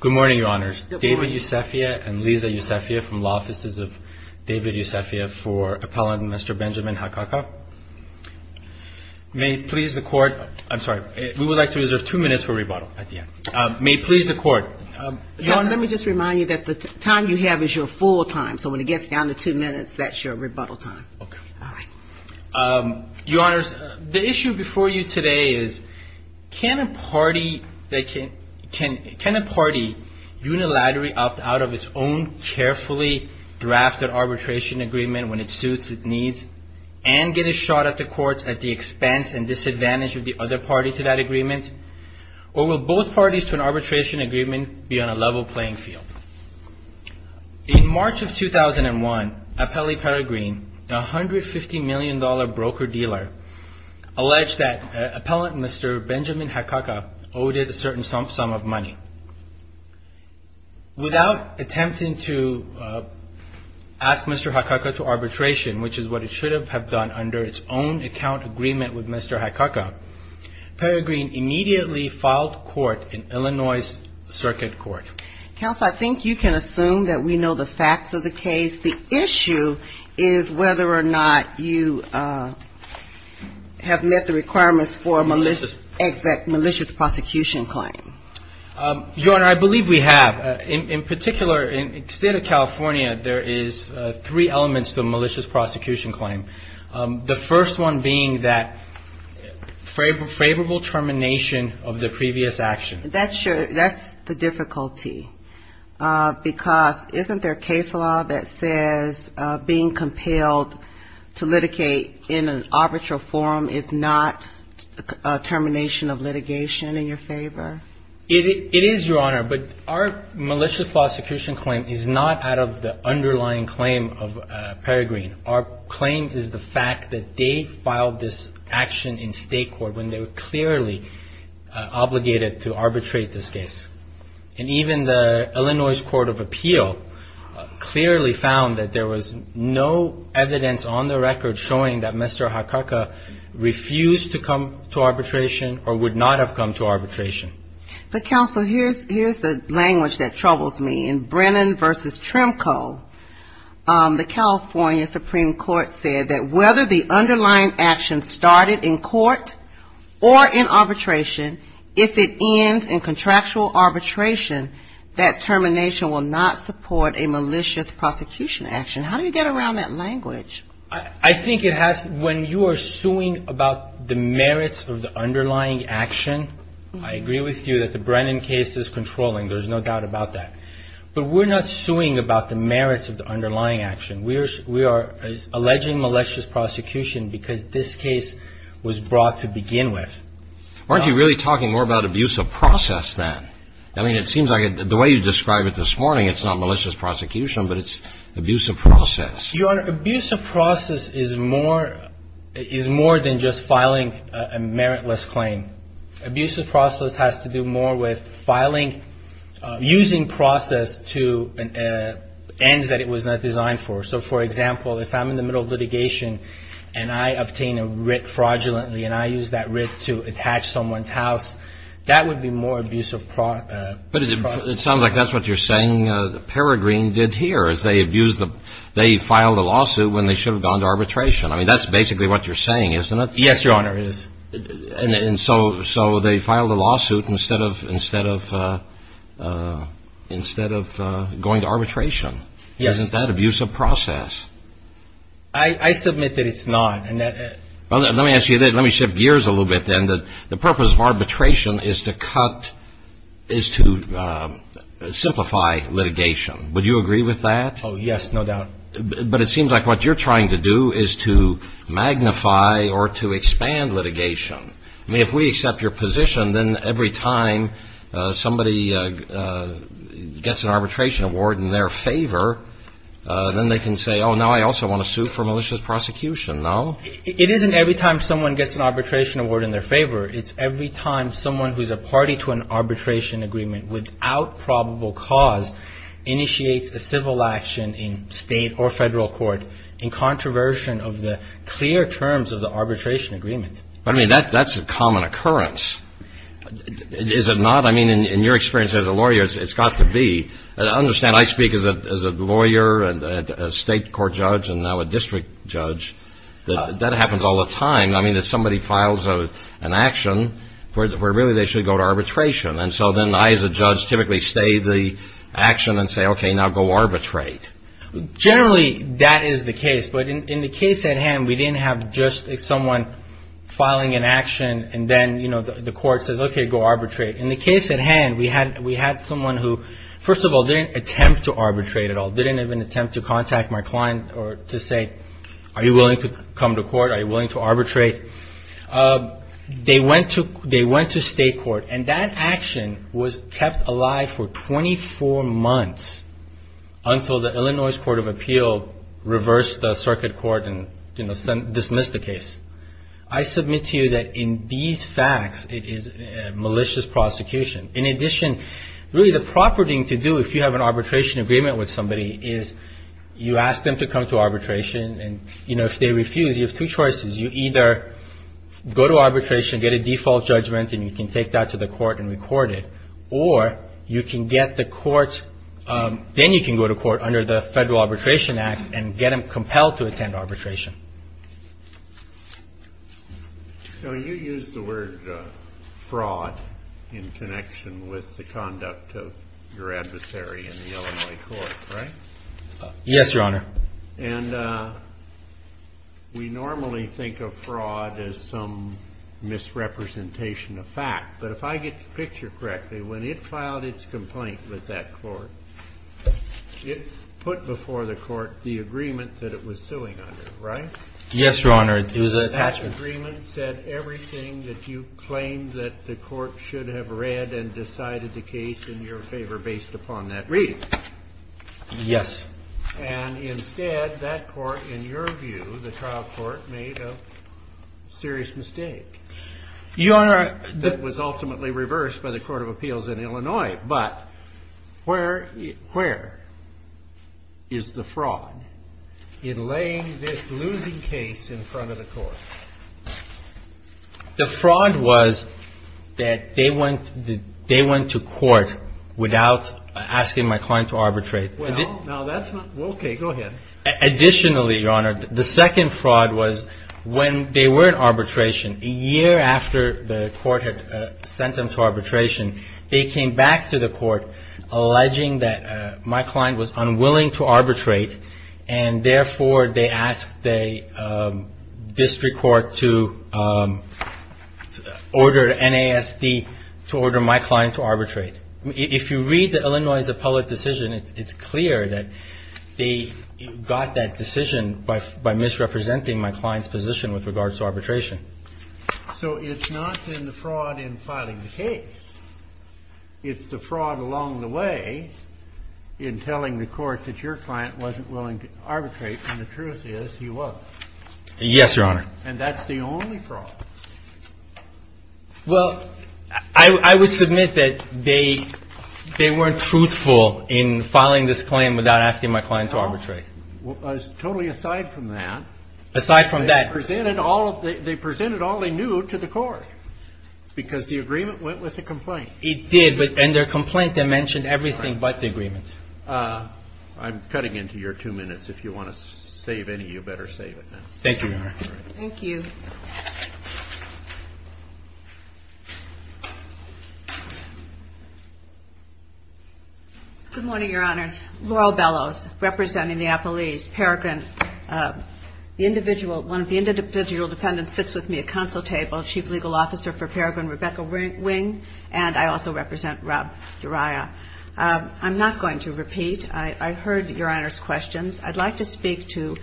Good morning, Your Honors. David Yusefia and Lisa Yusefia from Law Offices of David Yusefia for Appellant Mr. Benjamin Hakakha. May it please the Court. I'm sorry. We would like to reserve two minutes for rebuttal at the end. May it please the Court. Your Honor, let me just remind you that the time you have is your full time. So when it gets down to two minutes, that's your rebuttal time. Your Honors, the issue before you today is can a party unilaterally opt out of its own carefully drafted arbitration agreement when it suits its needs and get a shot at the courts at the expense and disadvantage of the other party to that agreement? Or will both parties to an arbitration agreement be on a level playing field? In March of 2001, Appellee Peregrine, a $150 million broker-dealer, alleged that Appellant Mr. Benjamin Hakakha owed it a certain sum of money. Without attempting to ask Mr. Hakakha to arbitration, which is what it should have done under its own account agreement with Mr. Hakakha, Peregrine immediately filed court in Illinois Circuit Court. Counsel, I think you can assume that we know the facts of the case. The issue is whether or not you have met the requirements for a exact malicious prosecution claim. Your Honor, I believe we have. In particular, in the state of California, there is three elements to a malicious prosecution claim. The first one being that favorable termination of the previous action. That's the difficulty because isn't there a case law that says being compelled to litigate in an arbitral form is not a termination of litigation in your favor? It is, Your Honor, but our malicious prosecution claim is not out of the underlying claim of Peregrine. Our claim is the fact that they filed this action in state court when they were clearly obligated to arbitrate this case. And even the Illinois Court of Appeal clearly found that there was no evidence on the record showing that Mr. Hakakha refused to come to arbitration or would not have come to arbitration. But, Counsel, here's the language that troubles me. In Brennan v. Tremco, the California Supreme Court said that whether the underlying action started in court or in arbitration, if it ends in contractual arbitration, that termination will not support a malicious prosecution action. I think it has. When you are suing about the merits of the underlying action, I agree with you that the Brennan case is controlling. There's no doubt about that. But we're not suing about the merits of the underlying action. We are alleging malicious prosecution because this case was brought to begin with. Aren't you really talking more about abuse of process then? I mean, it seems like the way you describe it this morning, it's not malicious prosecution, but it's abuse of process. Your Honor, abuse of process is more than just filing a meritless claim. Abuse of process has to do more with using process to ends that it was not designed for. So, for example, if I'm in the middle of litigation and I obtain a writ fraudulently and I use that writ to attach someone's house, that's not malicious prosecution. But it sounds like that's what you're saying Peregrine did here, is they abused the – they filed a lawsuit when they should have gone to arbitration. I mean, that's basically what you're saying, isn't it? Yes, Your Honor, it is. And so they filed a lawsuit instead of going to arbitration. Yes. Isn't that abuse of process? I submit that it's not. Well, let me ask you this. Let me shift gears a little bit then. The purpose of arbitration is to cut – is to simplify litigation. Would you agree with that? Oh, yes, no doubt. But it seems like what you're trying to do is to magnify or to expand litigation. I mean, if we accept your position, then every time somebody gets an arbitration award in their favor, then they can say, oh, now I also want to sue for malicious prosecution. No? It isn't every time someone gets an arbitration award in their favor. It's every time someone who's a party to an arbitration agreement without probable cause initiates a civil action in state or federal court in controversion of the clear terms of the arbitration agreement. I mean, that's a common occurrence. Is it not? I mean, in your experience as a lawyer, it's got to be. I understand I speak as a lawyer and a state court judge and now a district judge. That happens all the time. I mean, if somebody files an action where really they should go to arbitration. And so then I as a judge typically stay the action and say, okay, now go arbitrate. Generally, that is the case. But in the case at hand, we didn't have just someone filing an action and then, you know, the court says, okay, go arbitrate. In the case at hand, we had someone who, first of all, didn't attempt to arbitrate at all. They didn't even attempt to contact my client or to say, are you willing to come to court? Are you willing to arbitrate? They went to state court. And that action was kept alive for 24 months until the Illinois Court of Appeal reversed the circuit court and dismissed the case. I submit to you that in these facts, it is a malicious prosecution. In addition, really the proper thing to do if you have an arbitration agreement with somebody is you ask them to come to arbitration. And, you know, if they refuse, you have two choices. You either go to arbitration, get a default judgment, and you can take that to the court and record it. Or you can get the court's – then you can go to court under the Federal Arbitration Act and get them compelled to attend arbitration. So you used the word fraud in connection with the conduct of your adversary in the Illinois court, right? Yes, Your Honor. And we normally think of fraud as some misrepresentation of fact. But if I get the picture correctly, when it filed its complaint with that court, it put before the court the agreement that it was suing under, right? Yes, Your Honor. It was an attachment. That agreement said everything that you claimed that the court should have read and decided the case in your favor based upon that reading. Yes. And instead, that court, in your view, the trial court, made a serious mistake. Your Honor – That was ultimately reversed by the Court of Appeals in Illinois. But where is the fraud in laying this losing case in front of the court? The fraud was that they went to court without asking my client to arbitrate. Well, now that's not – okay, go ahead. Additionally, Your Honor, the second fraud was when they were in arbitration, a year after the court had sent them to arbitration, they came back to the court alleging that my client was unwilling to arbitrate, and therefore they asked the district court to order NASD to order my client to arbitrate. If you read the Illinois appellate decision, it's clear that they got that decision by misrepresenting my client's position with regards to arbitration. So it's not in the fraud in filing the case. It's the fraud along the way in telling the court that your client wasn't willing to arbitrate, and the truth is he was. Yes, Your Honor. And that's the only fraud. Well, I would submit that they weren't truthful in filing this claim without asking my client to arbitrate. No. Totally aside from that. Aside from that. They presented all they knew to the court because the agreement went with the complaint. It did, and their complaint, they mentioned everything but the agreement. I'm cutting into your two minutes. If you want to save any, you better save it now. Thank you, Your Honor. Thank you. Good morning, Your Honors. Laurel Bellows, representing the appellees. Paragon, the individual, one of the individual defendants sits with me at counsel table, Chief Legal Officer for Paragon, Rebecca Wing, and I also represent Rob Uriah. I'm not going to repeat. I heard Your Honor's questions. I'd like to speak to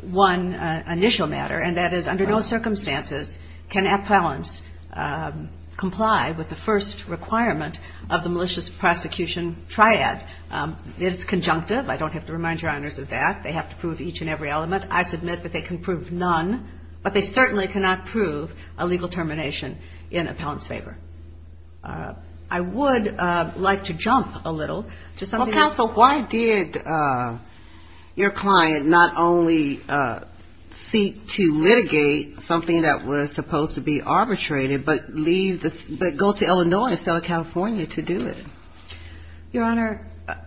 one initial matter, and that is under no circumstances can appellants comply with the first requirement of the malicious prosecution triad. It's conjunctive. I don't have to remind Your Honors of that. They have to prove each and every element. I submit that they can prove none, but they certainly cannot prove a legal termination in appellant's favor. Why did your client not only seek to litigate something that was supposed to be arbitrated, but go to Illinois instead of California to do it? Your Honor,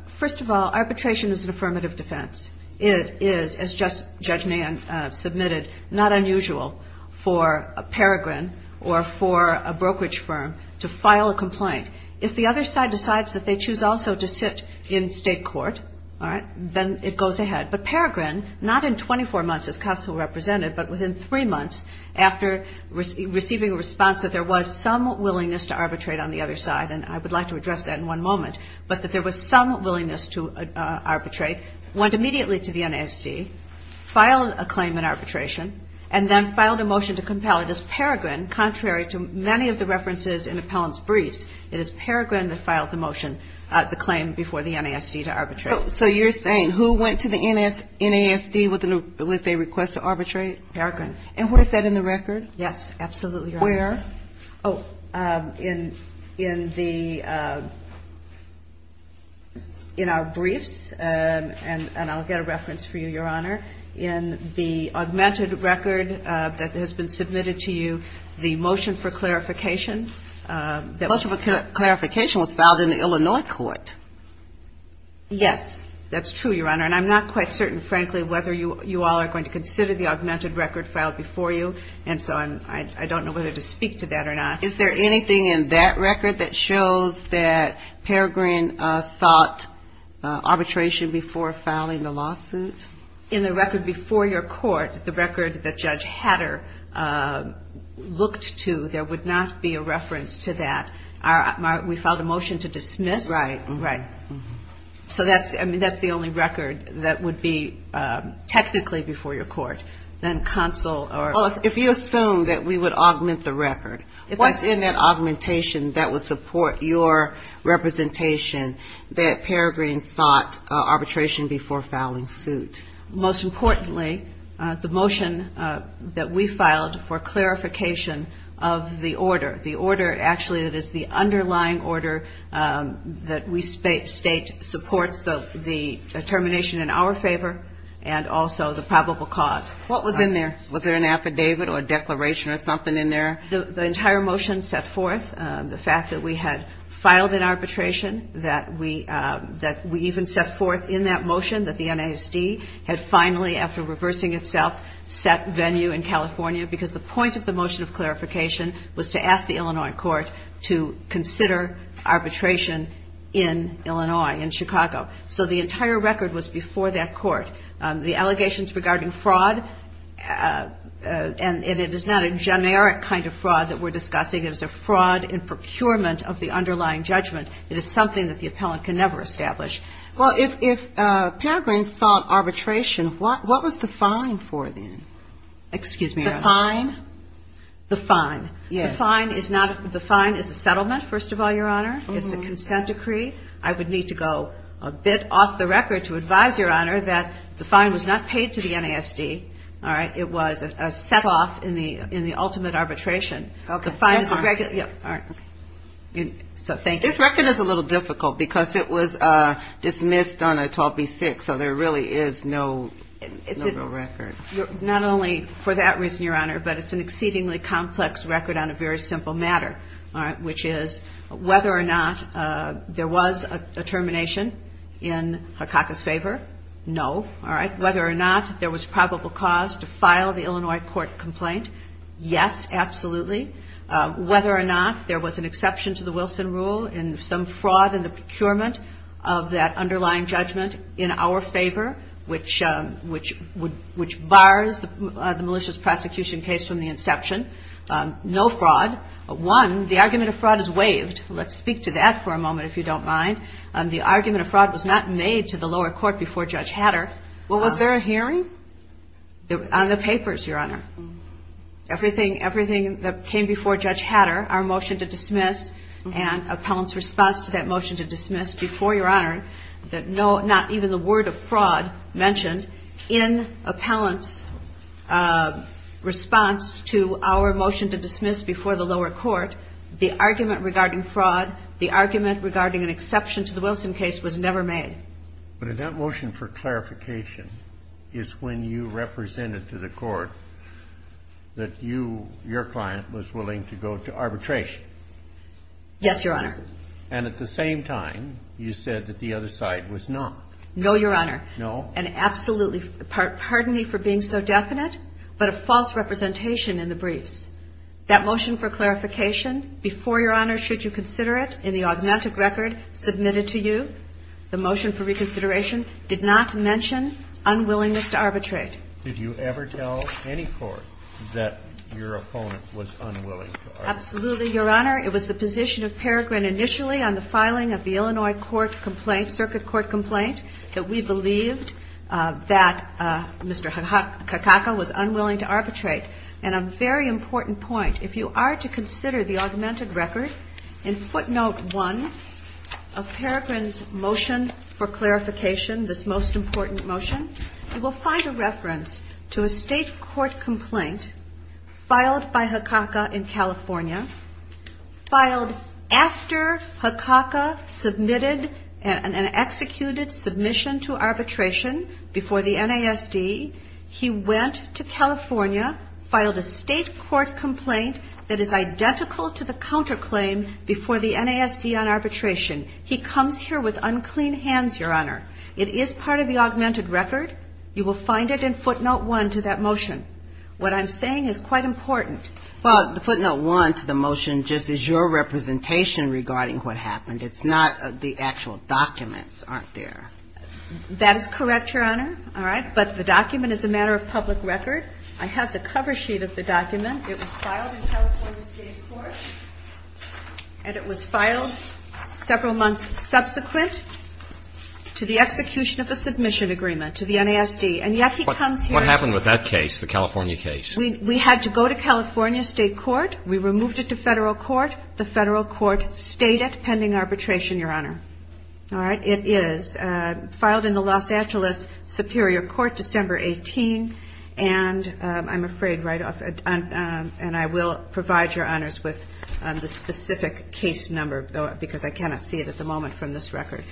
first of all, arbitration is an affirmative defense. It is, as Judge Mann submitted, not unusual for a paragon or for a brokerage firm to file a complaint. If the other side decides that they choose also to sit in state court, all right, then it goes ahead. But Paragon, not in 24 months as counsel represented, but within three months after receiving a response that there was some willingness to arbitrate on the other side, and I would like to address that in one moment, but that there was some willingness to arbitrate, went immediately to the NASD, filed a claim in arbitration, and then filed a motion to compel it. And of course, Paragon, contrary to many of the references in appellant's briefs, it is Paragon that filed the motion, the claim before the NASD to arbitrate. So you're saying who went to the NASD with a request to arbitrate? Paragon. And what is that in the record? Yes, absolutely, Your Honor. Where? Oh, in the, in our briefs, and I'll get a reference for you, Your Honor. In the augmented record that has been submitted to you, the motion for clarification. The motion for clarification was filed in the Illinois court. Yes, that's true, Your Honor, and I'm not quite certain, frankly, whether you all are going to consider the augmented record filed before you, and so I don't know whether to speak to that or not. Is there anything in that record that shows that Paragon sought arbitration before filing the lawsuit? In the record before your court, the record that Judge Hatter looked to, there would not be a reference to that. We filed a motion to dismiss. Right. Right. So that's, I mean, that's the only record that would be technically before your court. Then counsel or... Well, if you assume that we would augment the record, what's in that augmentation that would support your representation that Paragon sought arbitration before filing suit? Most importantly, the motion that we filed for clarification of the order, the order actually that is the underlying order that we state supports the termination in our favor and also the probable cause. What was in there? Was there an affidavit or declaration or something in there? The entire motion set forth the fact that we had filed an arbitration, that we even set forth in that motion that the NASD had finally, after reversing itself, set venue in California because the point of the motion of clarification was to ask the Illinois court to consider arbitration in Illinois, in Chicago. So the entire record was before that court. The allegations regarding fraud, and it is not a generic kind of fraud that we're discussing. It is a fraud in procurement of the underlying judgment. It is something that the appellant can never establish. Well, if Paragon sought arbitration, what was the fine for then? Excuse me, Your Honor. The fine? The fine. Yes. The fine is not... The fine is a settlement, first of all, Your Honor. It's a consent decree. I would need to go a bit off the record to advise, Your Honor, that the fine was not paid to the NASD. It was a set-off in the ultimate arbitration. Okay. So thank you. This record is a little difficult because it was dismissed on a 12B6, so there really is no real record. Not only for that reason, Your Honor, but it's an exceedingly complex record on a very simple matter, which is whether or not there was a termination in Harkaka's favor. No. Whether or not there was probable cause to file the Illinois court complaint, yes, absolutely. Whether or not there was an exception to the Wilson rule in some fraud in the procurement of that underlying judgment in our favor, which bars the malicious prosecution case from the inception, no fraud. One, the argument of fraud is waived. Let's speak to that for a moment, if you don't mind. The argument of fraud was not made to the lower court before Judge Hatter. Well, was there a hearing? On the papers, Your Honor. Everything that came before Judge Hatter, our motion to dismiss and appellant's response to that motion to dismiss that no, not even the word of fraud mentioned, in appellant's response to our motion to dismiss before the lower court, the argument regarding fraud, the argument regarding an exception to the Wilson case was never made. But in that motion for clarification is when you represented to the court that you, your client, was willing to go to arbitration. Yes, Your Honor. And at the same time, you said that the other side was not. No, Your Honor. No? And absolutely. Pardon me for being so definite, but a false representation in the briefs. That motion for clarification before, Your Honor, should you consider it in the augmented record submitted to you, the motion for reconsideration did not mention unwillingness to arbitrate. Did you ever tell any court that your opponent was unwilling to arbitrate? Absolutely, Your Honor. It was the position of Peregrin initially on the filing of the Illinois court complaint, circuit court complaint, that we believed that Mr. Hakaka was unwilling to arbitrate. And a very important point. If you are to consider the augmented record in footnote one of Peregrin's motion for clarification, this most important motion, you will find a reference to a state court complaint filed by Hakaka in California, filed after Hakaka submitted an executed submission to arbitration before the NASD. He went to California, filed a state court complaint that is identical to the counterclaim before the NASD on arbitration. He comes here with unclean hands, Your Honor. It is part of the augmented record. You will find it in footnote one to that motion. What I'm saying is quite important. Well, the footnote one to the motion just is your representation regarding what happened. It's not the actual documents, aren't there? That is correct, Your Honor. All right. But the document is a matter of public record. I have the cover sheet of the document. It was filed in California State Court. And it was filed several months subsequent to the execution of the submission agreement to the NASD. And yet he comes here. What happened with that case, the California case? We had to go to California State Court. We removed it to Federal Court. The Federal Court stated pending arbitration, Your Honor. All right. It is filed in the Los Angeles Superior Court December 18. And I'm afraid right off, and I will provide Your Honors with the specific case number because I cannot see it at the moment from this record.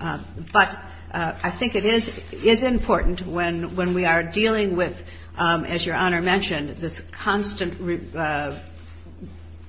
But I think it is important when we are dealing with, as Your Honor mentioned, this constant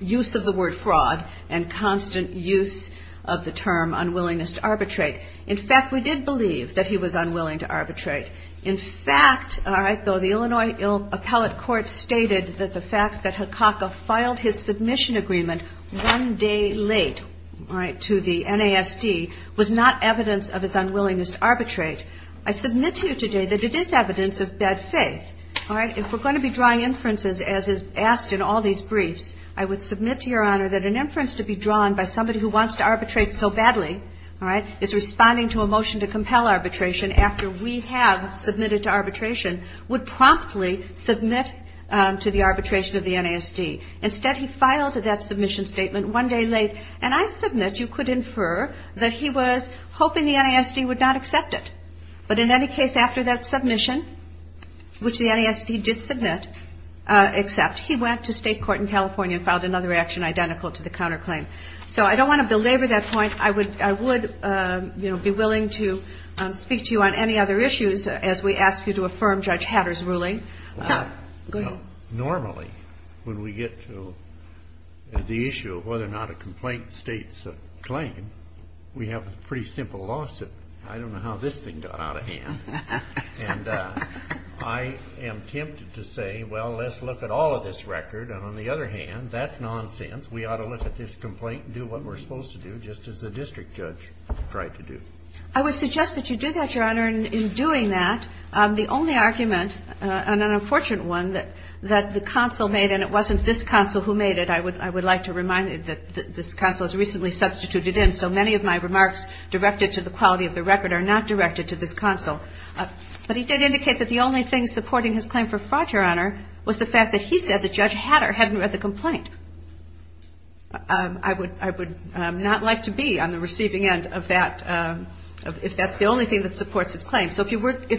use of the word fraud and constant use of the term unwillingness to arbitrate. In fact, we did believe that he was unwilling to arbitrate. In fact, all right, though the Illinois Appellate Court stated that the fact that Hakaka filed his submission agreement one day late, all right, to the NASD was not evidence of his unwillingness to arbitrate. I submit to you today that it is evidence of bad faith. All right. If we're going to be drawing inferences as is asked in all these briefs, I would submit to Your Honor that an inference to be drawn by somebody who wants to arbitrate so badly, all right, is responding to a motion to compel arbitration after we have submitted to arbitration, would promptly submit to the arbitration of the NASD. Instead, he filed that submission statement one day late. And I submit you could infer that he was hoping the NASD would not accept it. But in any case, after that submission, which the NASD did submit, accept, he went to state court in California and filed another action identical to the counterclaim. So I don't want to belabor that point. I would, you know, be willing to speak to you on any other issues as we ask you to affirm Judge Hatter's ruling. Normally, when we get to the issue of whether or not a complaint states a claim, we have a pretty simple lawsuit. I don't know how this thing got out of hand. And I am tempted to say, well, let's look at all of this record. And on the other hand, that's nonsense. We ought to look at this complaint and do what we're supposed to do, just as the district judge tried to do. I would suggest that you do that, Your Honor. In doing that, the only argument, and an unfortunate one, that the counsel made, and it wasn't this counsel who made it, I would like to remind you that this counsel has recently substituted in, so many of my remarks directed to the quality of the record are not directed to this counsel. But he did indicate that the only thing supporting his claim for fraud, Your Honor, was the fact that he said that Judge Hatter hadn't read the complaint. I would not like to be on the receiving end of that, if that's the only thing that supports his claim. So if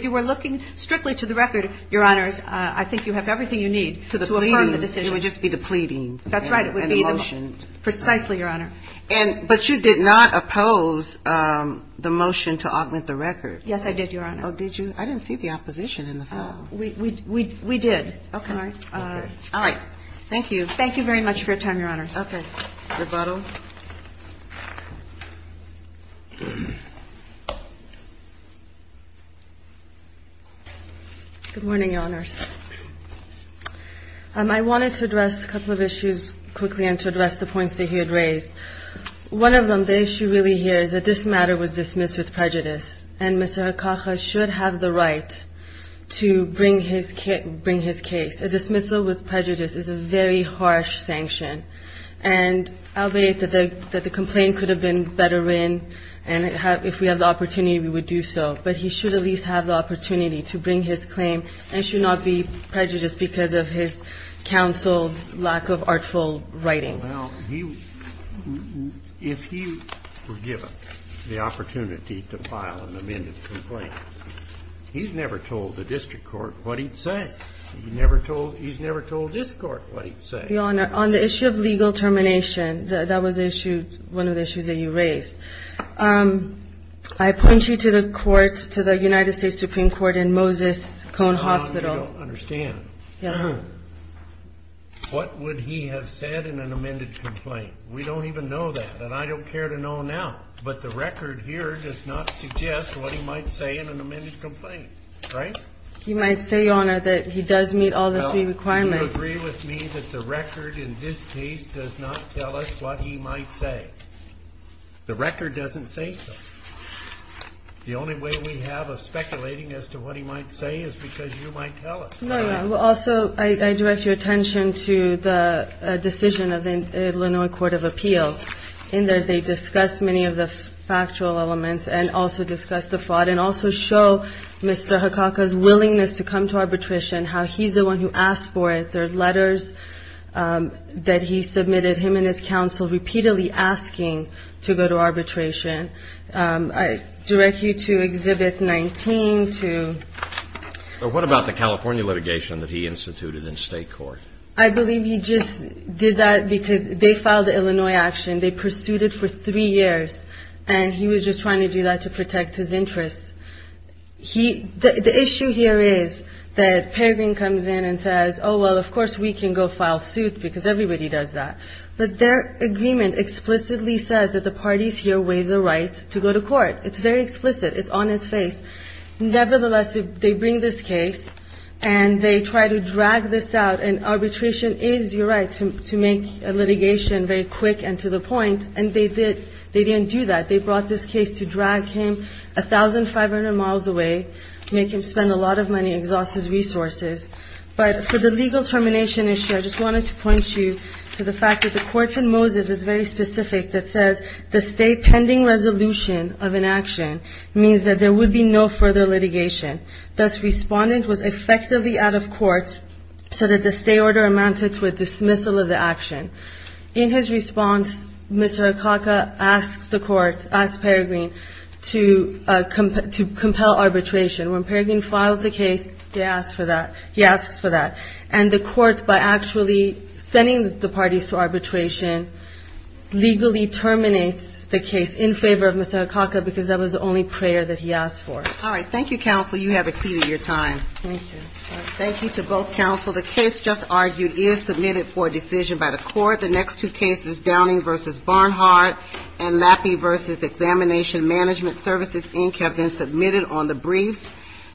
you were looking strictly to the record, Your Honors, I think you have everything you need to affirm the decision. It would just be the pleading. That's right. And the motion. Precisely, Your Honor. But you did not oppose the motion to augment the record. Yes, I did, Your Honor. Oh, did you? I didn't see the opposition in the file. We did. Okay. All right. Thank you. Thank you very much for your time, Your Honors. Okay. Rebuttal. Good morning, Your Honors. I wanted to address a couple of issues quickly and to address the points that he had raised. One of them, the issue really here is that this matter was dismissed with prejudice, and Mr. Hakaka should have the right to bring his case. A dismissal with prejudice is a very harsh sanction. And I'll believe that the complaint could have been better written, and if we had the opportunity, we would do so. But he should at least have the opportunity to bring his claim and should not be prejudiced because of his counsel's lack of artful writing. Well, if he were given the opportunity to file an amended complaint, he's never told the district court what he'd say. He's never told this Court what he'd say. Your Honor, on the issue of legal termination, that was one of the issues that you raised. I point you to the court, to the United States Supreme Court in Moses Cone Hospital. I don't understand. Yes. Your Honor, what would he have said in an amended complaint? We don't even know that, and I don't care to know now. But the record here does not suggest what he might say in an amended complaint. Right? You might say, Your Honor, that he does meet all the three requirements. Do you agree with me that the record in this case does not tell us what he might say? The record doesn't say so. The only way we have of speculating as to what he might say is because you might tell us. Also, I direct your attention to the decision of the Illinois Court of Appeals. In there, they discuss many of the factual elements and also discuss the fraud and also show Mr. Hakaka's willingness to come to arbitration, how he's the one who asked for it. There are letters that he submitted, him and his counsel repeatedly asking to go to arbitration. I direct you to Exhibit 19. What about the California litigation that he instituted in state court? I believe he just did that because they filed the Illinois action. They pursued it for three years, and he was just trying to do that to protect his interests. The issue here is that Peregrine comes in and says, oh, well, of course we can go file suit because everybody does that. But their agreement explicitly says that the parties here waive the right to go to court. It's very explicit. It's on its face. Nevertheless, they bring this case, and they try to drag this out, and arbitration is your right to make a litigation very quick and to the point, and they didn't do that. They brought this case to drag him 1,500 miles away, make him spend a lot of money, exhaust his resources. But for the legal termination issue, I just wanted to point you to the fact that the court in Moses is very specific that says the state pending resolution of an action means that there would be no further litigation. Thus, respondent was effectively out of court so that the state order amounted to a dismissal of the action. In his response, Mr. Akaka asks the court, asks Peregrine to compel arbitration. When Peregrine files the case, he asks for that. And the court, by actually sending the parties to arbitration, legally terminates the case in favor of Mr. Akaka because that was the only prayer that he asked for. All right. Thank you, counsel. You have exceeded your time. Thank you. Thank you to both counsel. The case just argued is submitted for decision by the court. The next two cases, Downing v. Barnhart and Lappy v. Examination Management Services, Inc., have been submitted on the briefs.